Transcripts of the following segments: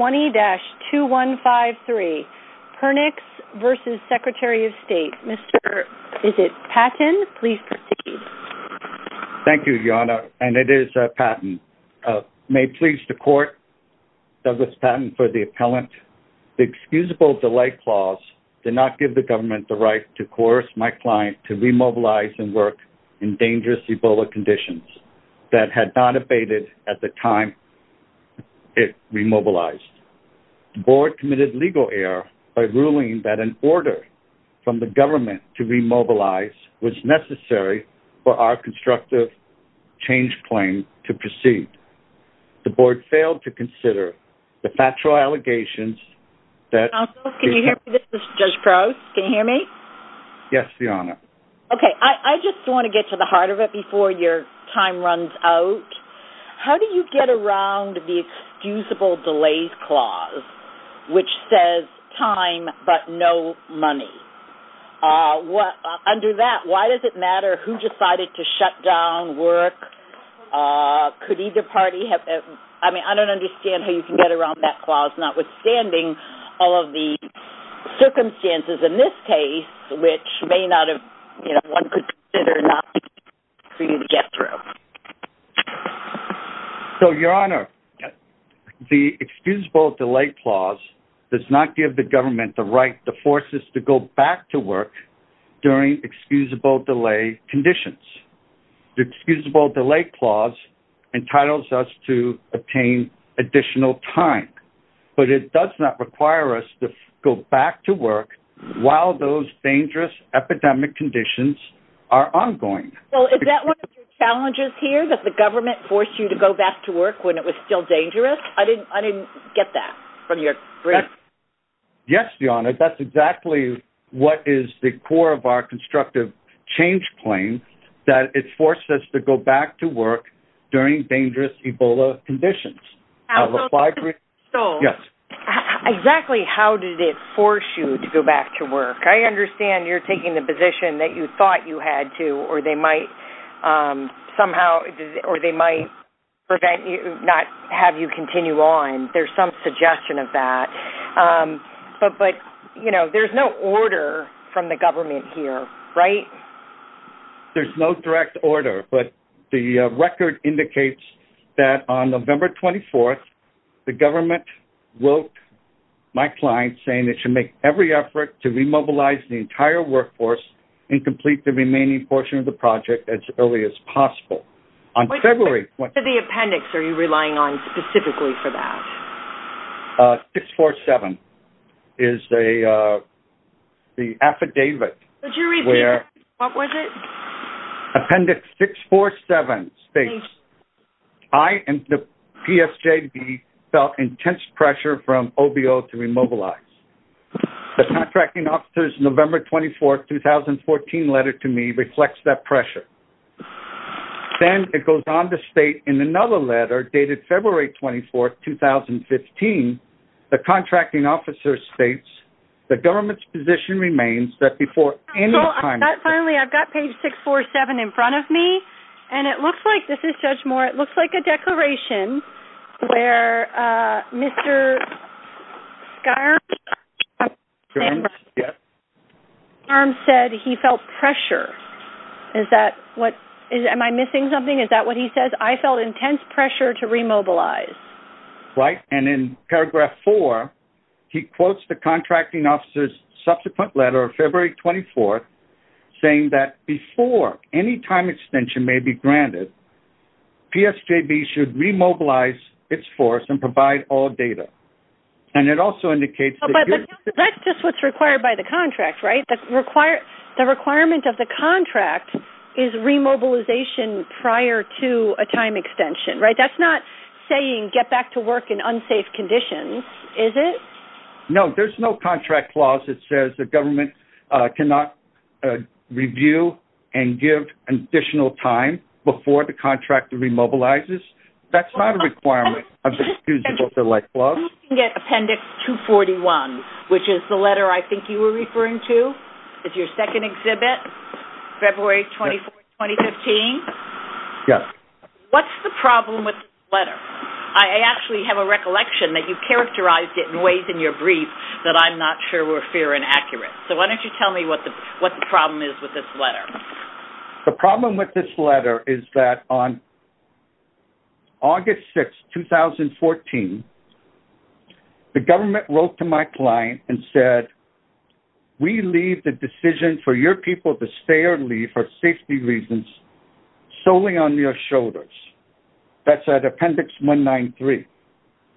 20-2153 Pernix v. Secretary of State May it please the Court, Douglas Patton for the Appellant The Excusable Delay Clause did not give the Government the right to coerce my client to remobilize and work in dangerous Ebola conditions that had not abated at the time it remobilized. The Board committed legal error by ruling that an order from the Government to remobilize was necessary for our constructive change claim to proceed. The Board failed to consider the factual allegations that... Counsel, can you hear me? This is Judge Crose. Can you hear me? Yes, Your Honor. Okay, I just want to get to the heart of it before your time runs out. How do you get around the Excusable Delays Clause, which says time but no money? Under that, why does it matter who decided to shut down work? Could either party have... I mean, I don't understand how you can get around that clause, notwithstanding all of the circumstances in this case, which may not have... you know, one could consider not being able to get through. So, Your Honor, the Excusable Delay Clause does not give the Government the right to force us to go back to work during excusable delay conditions. The Excusable Delay Clause entitles us to obtain additional time, but it does not require us to go back to work while those dangerous epidemic conditions are ongoing. Well, is that one of your challenges here, that the Government forced you to go back to work when it was still dangerous? I didn't get that from your brief. Yes, Your Honor, that's exactly what is the core of our constructive change claim, that it forced us to go back to work during dangerous Ebola conditions. So, exactly how did it force you to go back to work? I understand you're taking the position that you thought you had to, or they might prevent you, not have you continue on. There's some suggestion of that. But, you know, there's no order from the Government here, right? There's no direct order, but the record indicates that on November 24th, the Government wrote my client saying it should make every effort to remobilize the entire workforce and complete the remaining portion of the project as early as possible. On February... What appendix are you relying on specifically for that? 647 is the affidavit... What was it? Appendix 647 states, I and the PSJD felt intense pressure from OBO to remobilize. The contracting officer's November 24th, 2014 letter to me reflects that pressure. Then it goes on to state in another letter dated February 24th, 2015, the contracting officer states, the Government's position remains that before any time... Finally, I've got page 647 in front of me, and it looks like, this is Judge Moore, it looks like a declaration where Mr. Skarns... Skarns, yes. Skarns said he felt pressure. Is that what... Am I missing something? Is that what he says? I felt intense pressure to remobilize. Right, and in paragraph four, he quotes the contracting officer's subsequent letter of February 24th, saying that before any time extension may be granted, PSJD should remobilize its force and provide all data. And it also indicates... But that's just what's required by the contract, right? The requirement of the contract is remobilization prior to a time extension, right? That's not saying get back to work in unsafe conditions, is it? No, there's no contract clause that says the Government cannot review and give additional time before the contractor remobilizes. That's not a requirement of the excusable select clause. I'm looking at appendix 241, which is the letter I think you were referring to. It's your second exhibit, February 24th, 2015. Yes. What's the problem with this letter? I actually have a recollection that you characterized it in ways in your brief that I'm not sure were fair and accurate. So why don't you tell me what the problem is with this letter? The problem with this letter is that on August 6, 2014, the Government wrote to my client and said, We leave the decision for your people to stay or leave for safety reasons solely on your shoulders. That's at appendix 193.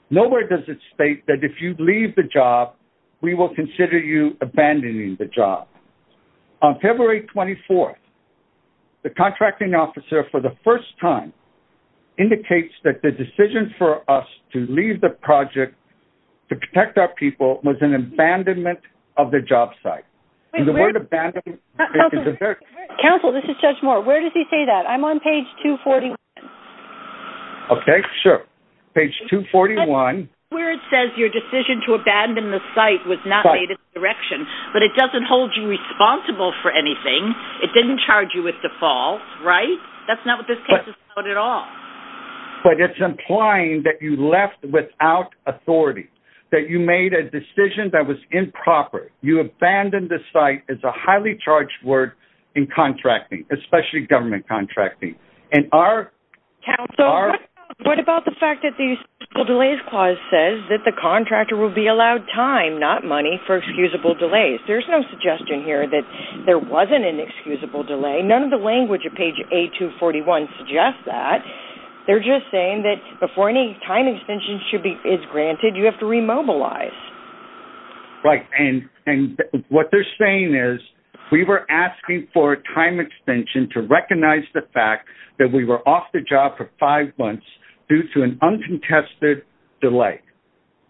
Nowhere does it state that if you leave the job, we will consider you abandoning the job. On February 24th, the contracting officer, for the first time, indicates that the decision for us to leave the project to protect our people was an abandonment of the job site. Counsel, this is Judge Moore. Where does he say that? I'm on page 241. Okay. Sure. Page 241. That's where it says your decision to abandon the site was not made in direction, but it doesn't hold you responsible for anything. It didn't charge you with default. Right? That's not what this case is about at all. But it's implying that you left without authority, that you made a decision that was improper. You abandoned the site. It's a highly charged word in contracting, especially government contracting. Counsel, what about the fact that the excusable delays clause says that the contractor will be allowed time, not money, for excusable delays? There's no suggestion here that there wasn't an excusable delay. None of the language of page 241 suggests that. They're just saying that before any time extension is granted, you have to remobilize. Right. And what they're saying is we were asking for a time extension to recognize the fact that we were off the job for five months due to an uncontested delay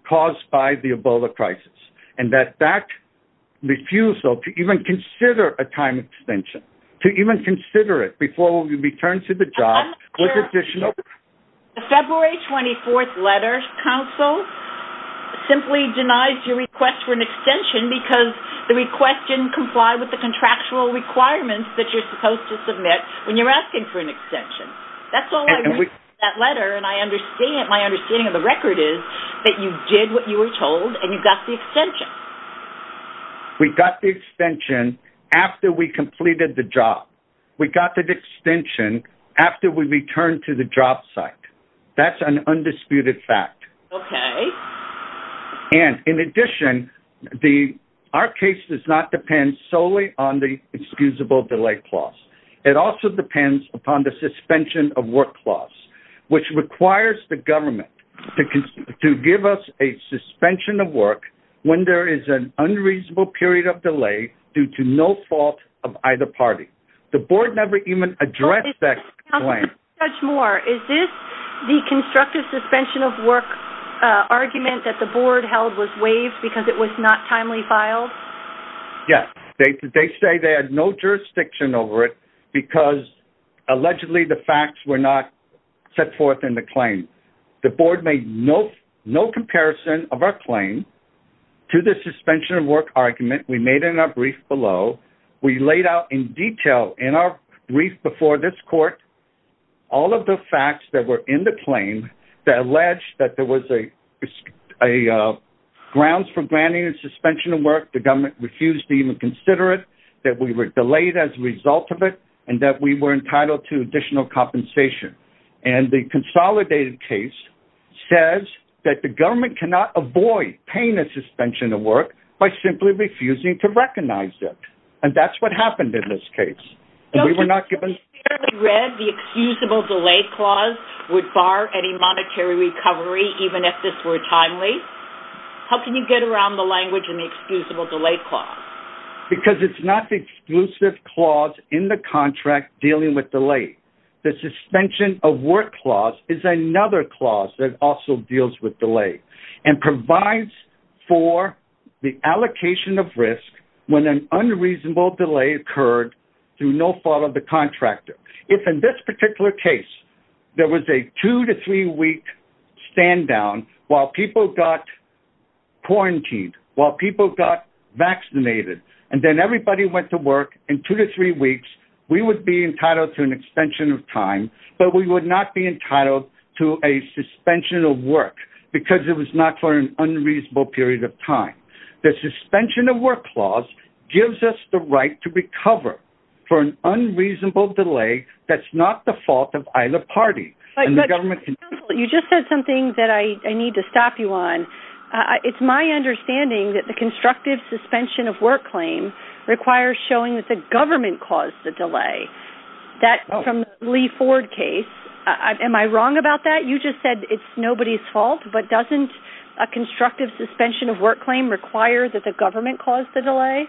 caused by the Ebola crisis, and that that refusal to even consider a time extension, to even consider it before we returned to the job was additional. The February 24th letter, counsel, simply denies your request for an extension because the request didn't comply with the contractual requirements that you're supposed to submit when you're asking for an extension. That's all I read in that letter, and my understanding of the record is that you did what you were told and you got the extension. We got the extension after we completed the job. We got the extension after we returned to the job site. That's an undisputed fact. Okay. And in addition, our case does not depend solely on the excusable delay clause. It also depends upon the suspension of work clause, which requires the government to give us a suspension of work when there is an unreasonable period of delay due to no fault of either party. The board never even addressed that claim. Judge Moore, is this the constructive suspension of work argument that the board held was waived because it was not timely filed? Yes. They say they had no jurisdiction over it because allegedly the facts were not set forth in the claim. The board made no comparison of our claim to the suspension of work argument. We made it in our brief below. We laid out in detail in our brief before this court, all of the facts that were in the claim that alleged that there was a grounds for granting a suspension of work. The government refused to even consider it, that we were delayed as a result of it and that we were entitled to additional compensation. And the consolidated case says that the government cannot avoid paying a suspension of work by simply refusing to recognize it. And that's what happened in this case. And we were not given. The excusable delay clause would bar any monetary recovery, even if this were timely. How can you get around the language and the excusable delay clause? Because it's not the exclusive clause in the contract dealing with delay. The suspension of work clause is another clause that also deals with delay and provides for the allocation of risk when an unreasonable delay occurred through no fault of the contractor. If in this particular case, there was a two to three week stand down while people got quarantined, while people got vaccinated, and then everybody went to work in two to three weeks, we would be entitled to an extension of time, but we would not be entitled to a suspension of work because it was not for an unreasonable period of time. The suspension of work clause gives us the right to recover for an unreasonable delay. That's not the fault of either party. You just said something that I need to stop you on. It's my understanding that the constructive suspension of work claim requires showing that the government caused the delay. That from Lee Ford case, am I wrong about that? You just said it's nobody's fault, but doesn't a constructive suspension of work claim require that the government caused the delay?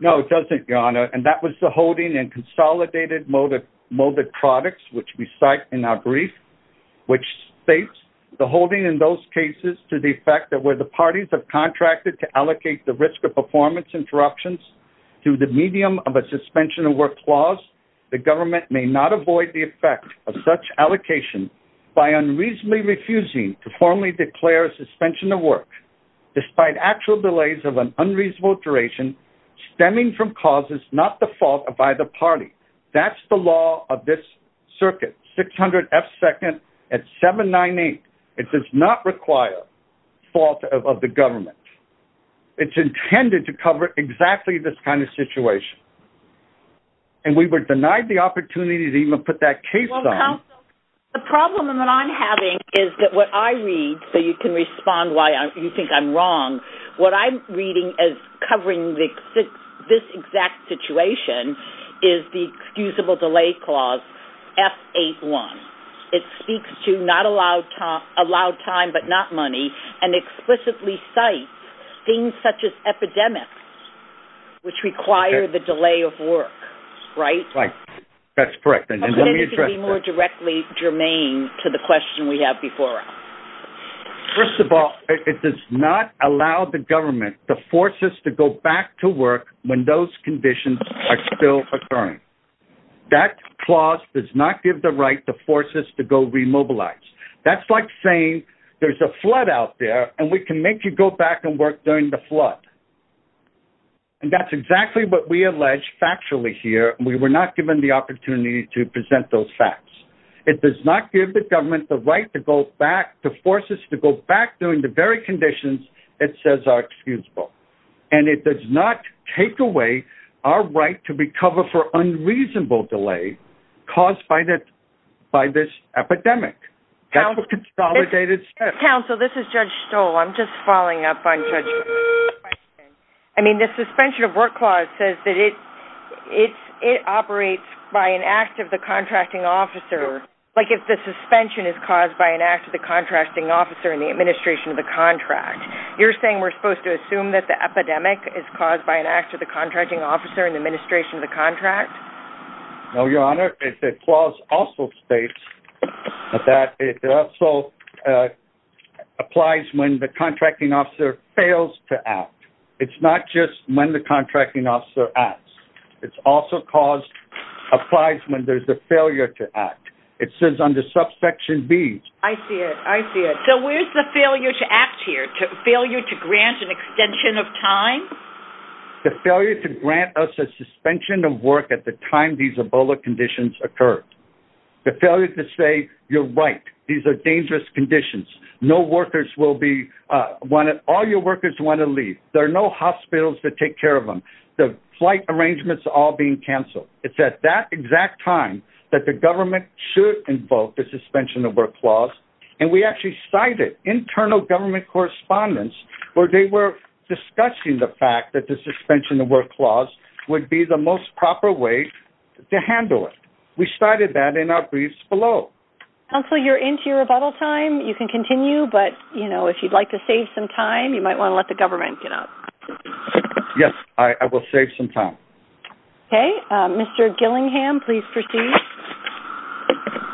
No, it doesn't Your Honor. And that was the holding and consolidated molded products, which we cite in our brief, which states the holding in those cases to the fact that where the parties have contracted to allocate the risk of performance interruptions through the medium of a suspension of work clause, the government may not avoid the effect of such allocation by unreasonably refusing to formally declare suspension of work. Despite actual delays of an unreasonable duration stemming from causes, not the fault of either party. That's the law of this circuit. 600 F second at seven, nine, eight. It does not require fault of the government. It's intended to cover exactly this kind of situation. And we were denied the opportunity to even put that case. The problem that I'm having is that what I read, so you can respond why you think I'm wrong. What I'm reading as covering this exact situation is the excusable delay clause F eight one. It speaks to not allowed time, allowed time, but not money. And explicitly site things such as epidemics, which require the delay of work, right? That's correct. And then let me address more directly germane to the question we have before. First of all, it does not allow the government the forces to go back to work when those conditions are still occurring. That clause does not give the right to force us to go remobilize. That's like saying there's a flood out there and we can make you go back and work during the flood. And that's exactly what we allege factually here. We were not given the opportunity to present those facts. It does not give the government the right to go back to forces to go back during the very conditions it says are excusable. And it does not take away our right to be covered for unreasonable delay caused by that, by this epidemic. That's what consolidates council. This is judge stole. I'm just following up on judge. I mean, the suspension of work clause says that it it's, it operates by an act of the contracting officer. Like if the suspension is caused by an act of the contracting officer in the administration of the contract, you're saying we're supposed to assume that the epidemic is caused by an act of the contracting officer in the administration of the contract. No, your honor. It's a clause also states that it also applies when the contracting officer fails to act. It's not just when the contracting officer acts, it's also caused applies when there's a failure to act. It says under subsection B. I see it. I see it. So where's the failure to act here to fail you, to grant an extension of time, the failure to grant us a suspension of work at the time, these Ebola conditions occurred. The failure to say you're right. These are dangerous conditions. No workers will be wanted. All your workers want to leave. There are no hospitals to take care of them. The flight arrangements all being canceled. It's at that exact time that the government should invoke the suspension of work clause. And we actually cited internal government correspondence where they were discussing the fact that the suspension of work clause would be the most proper way to handle it. We started that in our briefs below. And so you're into your rebuttal time. You can continue, but you know, if you'd like to save some time, you might want to let the government get up. Yes, I will save some time. Okay. Mr. Gillingham, please proceed.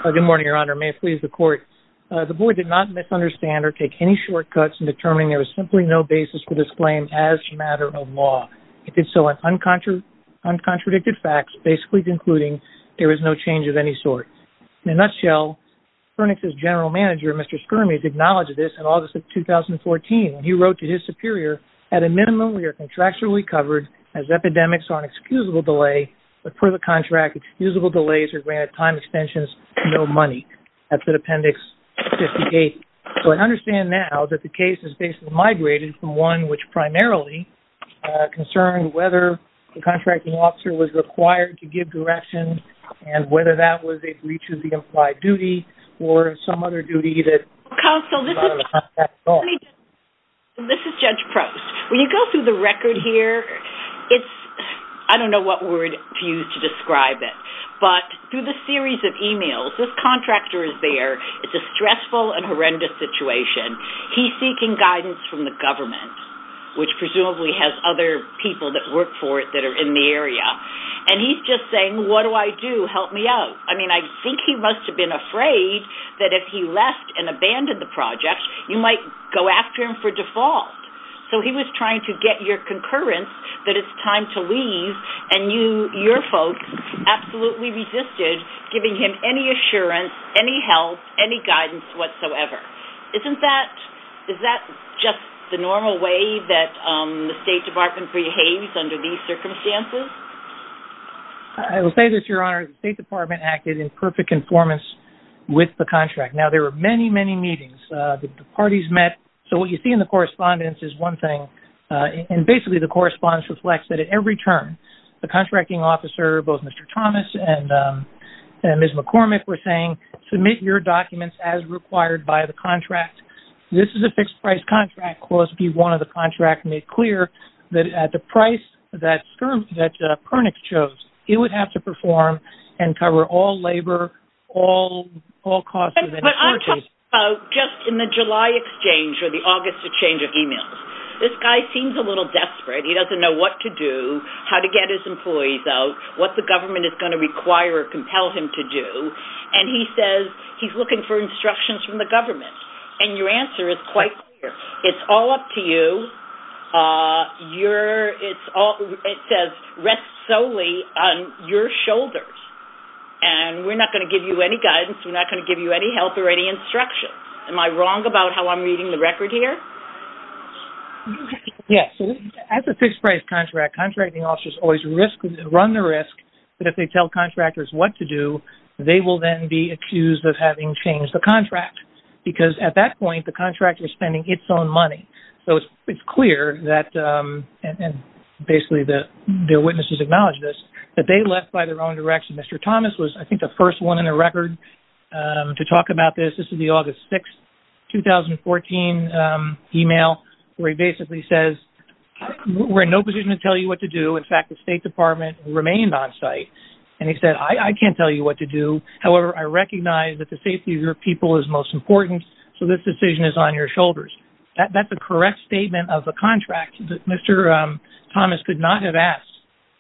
Good morning, your honor. May it please the court. The board did not misunderstand or take any shortcuts in determining there was simply no basis for this claim as a matter of law. It did so in uncontradicted facts, basically concluding there was no change of any sort. In a nutshell, Furnace's general manager, Mr. Skirmish, acknowledged this in August of 2014. He wrote to his superior, at a minimum, we are contractually covered as epidemics are an excusable delay, but per the contract, excusable delays are granted time extensions, no money. That's the appendix 58. So I understand now that the case is basically migrated from one which primarily concerned whether the contracting officer was required to give direction and whether that was a breach of the implied duty or some other duty that. This is Judge Prost. When you go through the record here, it's, I don't know what word to use to describe it, but through the series of emails, this contractor is there. It's a stressful and horrendous situation. He's seeking guidance from the government, which presumably has other people that work for it that are in the area. And he's just saying, what do I do? Help me out. I mean, I think he must have been afraid that if he left and abandoned the project, you might go after him for default. So he was trying to get your concurrence that it's time to leave and you, your folks absolutely resisted giving him any assurance, any help, any guidance whatsoever. Isn't that, is that just the normal way that the State Department behaves under these circumstances? I will say this, Your Honor. The State Department acted in perfect conformance with the contract. Now there were many, many meetings. The parties met. So what you see in the correspondence is one thing. And basically the correspondence reflects that at every turn, the contracting officer, both Mr. Thomas and Ms. McCormick were saying, submit your documents as required by the contract. This is a fixed price contract. Clause B1 of the contract made clear that at the price that Skirm, that Pernick chose, it would have to perform and cover all labor, all, all costs. Just in the July exchange or the August exchange of emails, this guy seems a little desperate. He doesn't know what to do, how to get his employees out, what the government is going to require or compel him to do. And he says, he's looking for instructions from the government. And your answer is quite clear. It's all up to you. You're, it's all, it says, rest solely on your shoulders. And we're not going to give you any guidance. We're not going to give you any help or any instruction. Am I wrong about how I'm reading the record here? Yes. As a fixed price contract, contracting officers always risk run the risk that if they tell contractors what to do, they will then be accused of having changed the contract because at that point, the contractor is spending its own money. So it's clear that, and basically the, their witnesses acknowledge this, that they left by their own direction. Mr. Thomas was, I think the first one in the record to talk about this. This is the August 6th, 2014 email where he basically says, we're in no position to tell you what to do. In fact, the state department remained on site and he said, I can't tell you what to do. However, I recognize that the safety of your people is most important. So this decision is on your shoulders. That's a correct statement of a contract that Mr. Thomas could not have asked.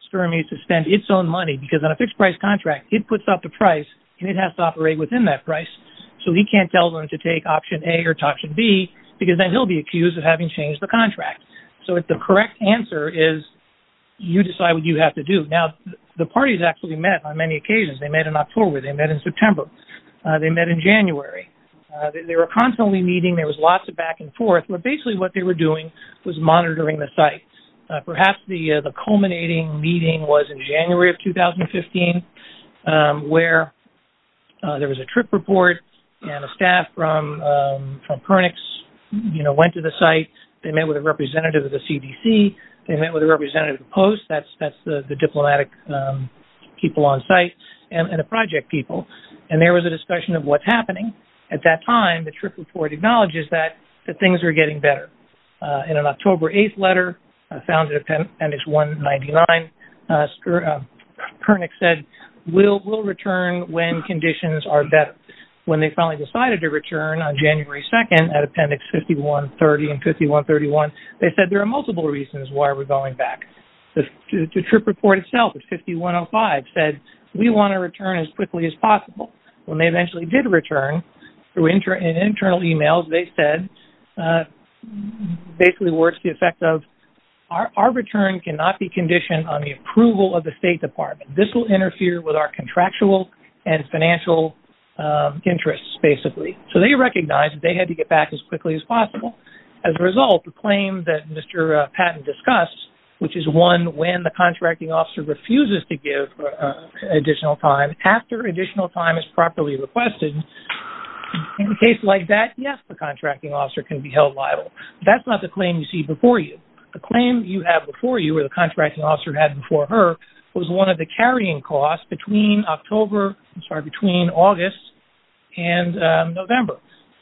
Sperm needs to spend its own money because on a fixed price contract, it puts out the price and it has to operate within that price. So he can't tell them to take option A or option B because then he'll be accused of having changed the contract. So the correct answer is you decide what you have to do. Now the parties actually met on many occasions. They met in October. They met in September. They met in January. They were constantly meeting. There was lots of back and forth, but basically what they were doing was monitoring the site. Perhaps the culminating meeting was in January of 2015 where there was a trip report and a staff from Pernix went to the site. They met with a representative of the CDC. They met with a representative of the Post. That's the diplomatic people on site and the project people. And there was a discussion of what's happening. At that time, the trip report acknowledges that things are getting better. In an October 8th letter found in appendix 199, Pernix said we'll return when conditions are better. When they finally decided to return on January 2nd at appendix 5130 and 5131, they said there are multiple reasons why we're going back. The trip report itself at 5105 said we want to return as quickly as possible. When they eventually did return, in internal emails, they said basically it works the effect of our return cannot be conditioned on the approval of the State Department. This will interfere with our contractual and financial interests basically. So they recognized that they had to get back as quickly as possible. As a result, the claim that Mr. Patton discussed, which is one when the contracting officer refuses to give additional time, after additional time is properly requested, in a case like that, yes, the contracting officer can be held liable. That's not the claim you see before you. The claim you have before you, or the contracting officer had before her, was one of the carrying costs between August and November.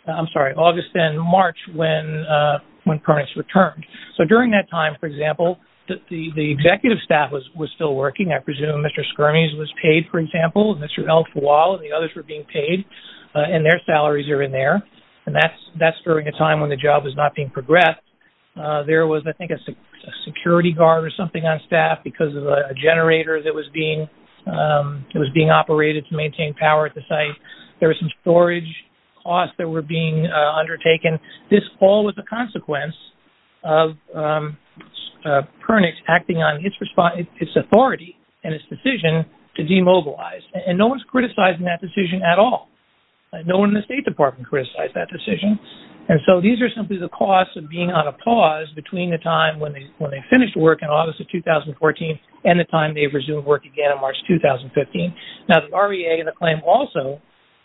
I'm sorry, August and March when Pernix returned. So during that time, for example, the executive staff was still working. I presume Mr. Skirmish was paid, for example, and Mr. Elfwall and the others were being paid, and their salaries are in there. And that's during a time when the job was not being progressed. There was, I think, a security guard or something on staff because of a generator that was being, it was being operated to maintain power at the site. There was some storage costs that were being undertaken. This all was a consequence of Pernix acting on its authority, and its decision to demobilize. And no one is criticizing that decision at all. No one in the State Department criticized that decision. And so these are simply the costs of being on a pause between the time when they finished work in August of 2014 and the time they resumed work again in March 2015. Now, the REA and the claim also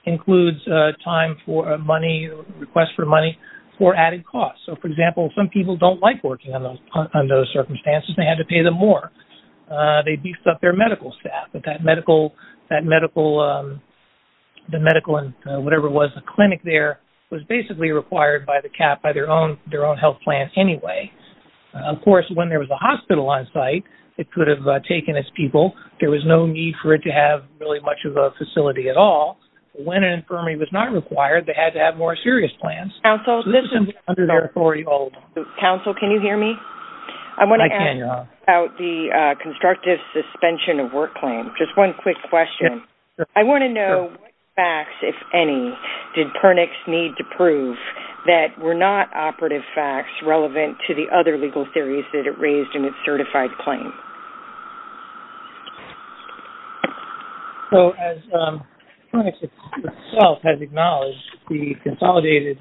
includes time for money, requests for money, for added costs. So, for example, some people don't like working under those circumstances. They had to pay them more. They beefed up their medical staff. That medical, the medical and whatever it was, the clinic there, was basically required by the cap, by their own health plans anyway. Of course, when there was a hospital on site, it could have taken its people. There was no need for it to have really much of a facility at all. When an infirmary was not required, they had to have more serious plans. So, this is something under their authority. Counsel, can you hear me? I can, yeah. About the constructive suspension of work claim, just one quick question. I want to know what facts, if any, did Pernix need to prove that were not operative facts relevant to the other legal theories that it raised in its certified claim? So, as Pernix itself has acknowledged, the consolidated,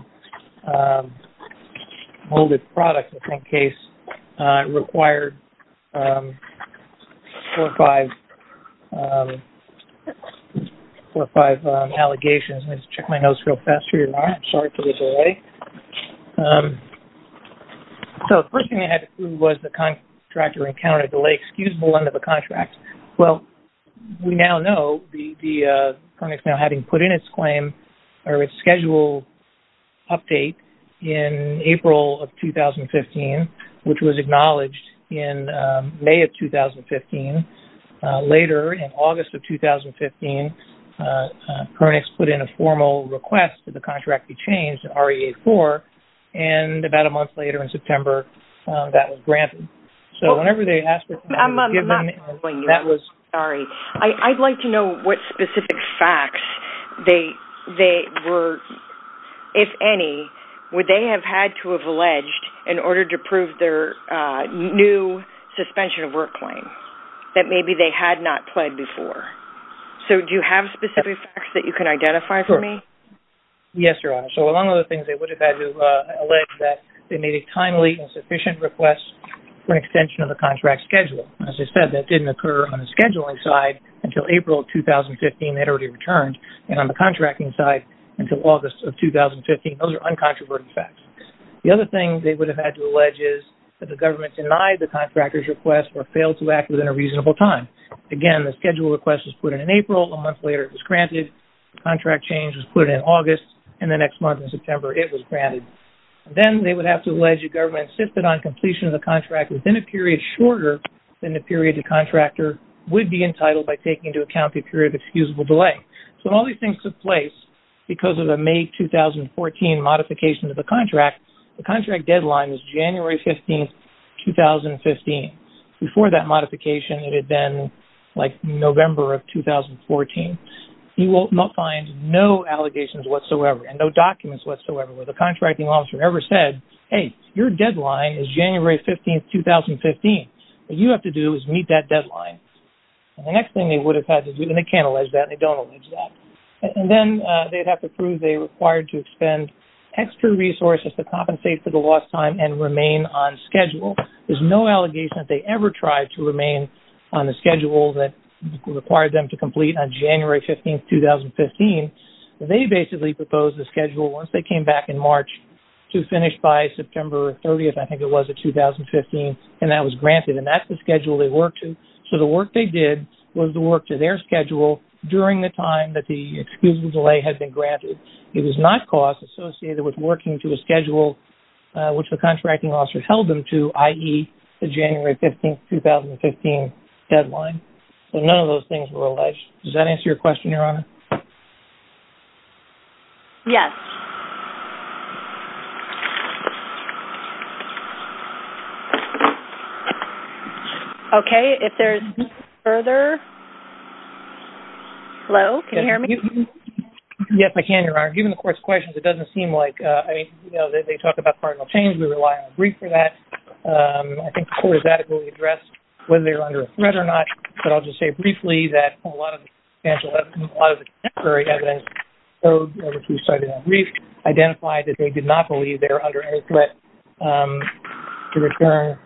molded product, in this case, required four or five, four or five allegations. Let me just check my notes real fast here. All right. Sorry for the delay. So, the first thing they had to prove was the contractor encountered a delay. Excuse the length of the contract. Well, we now know the, the Pernix now having put in its claim, or its schedule update, in April of 2015, which was acknowledged in May of 2015. Later, in August of 2015, Pernix put in a formal request that the contract be changed, REA-4, and about a month later, in September, that was granted. So, whenever they asked, I'm not following you. That was. Sorry. I'd like to know what specific facts they were, if any, would they have had to have alleged, in order to prove their new suspension of work claim, that maybe they had not pled before. So, do you have specific facts that you can identify for me? Sure. Yes, Your Honor. So, among other things, they would have had to allege that they made a timely and sufficient request for an extension of the contract schedule. As I said, that didn't occur on the scheduling side until April of 2015. They'd already returned. And on the contracting side, until August of 2015, those are uncontroverted facts. The other thing they would have had to allege is, that the government denied the contractor's request, or failed to act within a reasonable time. Again, the schedule request was put in April. A month later, it was granted. The contract change was put in August. And the next month, in September, it was granted. Then, they would have to allege the government insisted on completion of the contract within a period shorter than the period the contractor would be entitled by taking into account the period of excusable delay. So, when all these things took place, because of the May 2014 modification of the contract, the contract deadline was January 15, 2015. Before that modification, it had been, like, November of 2014. You will find no allegations whatsoever, and no documents whatsoever, where the contracting officer ever said, hey, your deadline is January 15, 2015. What you have to do is meet that deadline. And the next thing they would have had to do, and they can't allege that, and they don't allege that. And then, they would have to prove they were required to expend extra resources to compensate for the lost time and remain on schedule. There is no allegation that they ever tried to remain on the schedule that required them to complete on January 15, 2015. They basically proposed the schedule, once they came back in March, to finish by September 30th, I think it was, of 2015. And that was granted. And that's the schedule they worked to. So, the work they did was the work to their schedule, during the time that the excusable delay had been granted. It was not cost associated with working to a schedule, which the contracting officer held them to, i.e., the January 15, 2015 deadline. So, none of those things were alleged. Does that answer your question, Your Honor? Yes. Okay. If there's no further... Hello? Can you hear me? Yes, I can, Your Honor. Given the Court's questions, it doesn't seem like, I mean, you know, they talk about cardinal change. We rely on a brief for that. I think the Court has adequately addressed whether they were under a threat or not, but I'll just say briefly that a lot of the contemporary evidence, which we've cited on brief, identified that they did not believe they were under any threat to return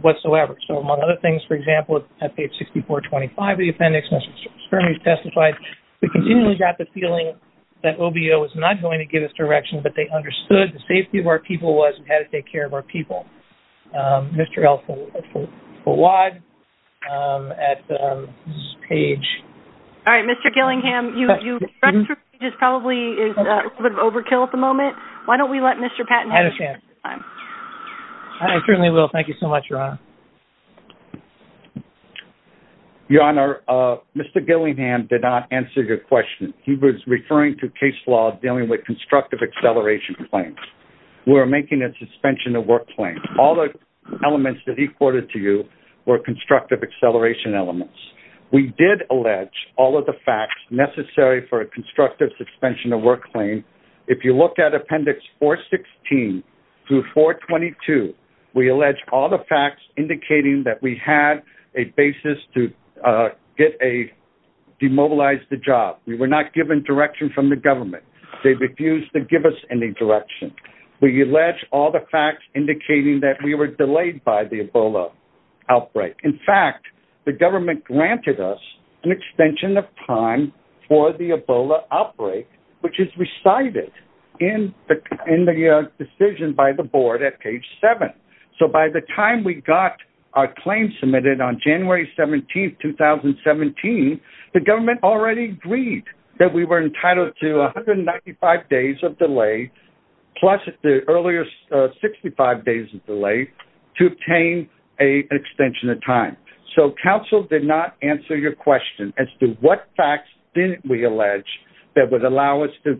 whatsoever. So, among other things, for example, at page 6425 of the appendix, Mr. Spermy testified, we continually got the feeling that OBO was not going to give us direction, but they understood the safety of our people was we had to take care of our people. Mr. El-Fawad, at this page. All right, Mr. Gillingham, you've probably, it's a bit of overkill at the moment. Why don't we let Mr. Patton... I understand. I certainly will. Thank you so much, Ron. Your Honor, Mr. Gillingham did not answer your question. He was referring to case law dealing with constructive acceleration complaints. We're making a suspension of work claim. All the elements that he quoted to you were constructive acceleration elements. We did allege all of the facts necessary for a constructive suspension of work claim. If you look at appendix 416 through 422, we allege all the facts indicating that we had a basis to get a, demobilize the job. We were not given direction from the government. They refused to give us any direction. We allege all the facts indicating that we were delayed by the Ebola outbreak. In fact, the government granted us an extension of time for the Ebola outbreak, which is recited in the decision by the board at page seven. So by the time we got our claim submitted on January 17th, 2017, the government already agreed that we were entitled to 195 days of delay plus the earlier 65 days of delay to obtain a extension of time. So counsel did not answer your question as to what facts didn't we allege that would allow us to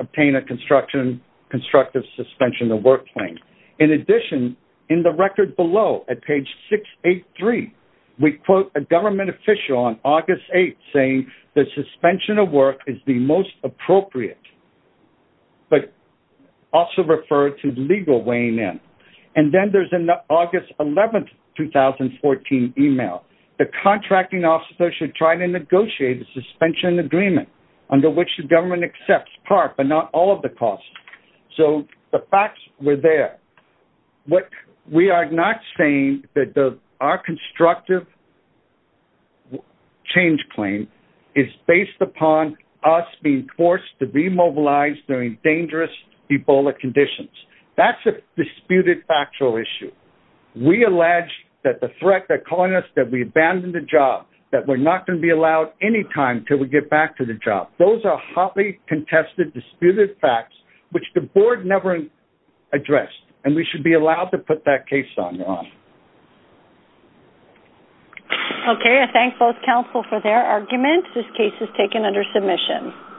obtain a construction, constructive suspension of work claim. In addition, in the record below at page six, eight, three, we quote a government official on August 8th saying the suspension of work is the most appropriate, but also referred to legal weighing in. And then there's an August 11th, 2014 email. The contracting officer should try to negotiate a suspension agreement under which the government accepts part, but not all of the costs. So the facts were there. What we are not saying that the, our constructive change claim is based upon us being forced to be mobilized during dangerous Ebola conditions. That's a disputed factual issue. We allege that the threat that calling us, that we abandoned the job, that we're not going to be allowed any time till we get back to the job. Those are hotly contested, disputed facts, which the board never addressed. And we should be allowed to put that case on. Okay. I thank both counsel for their arguments. This case is taken under submission.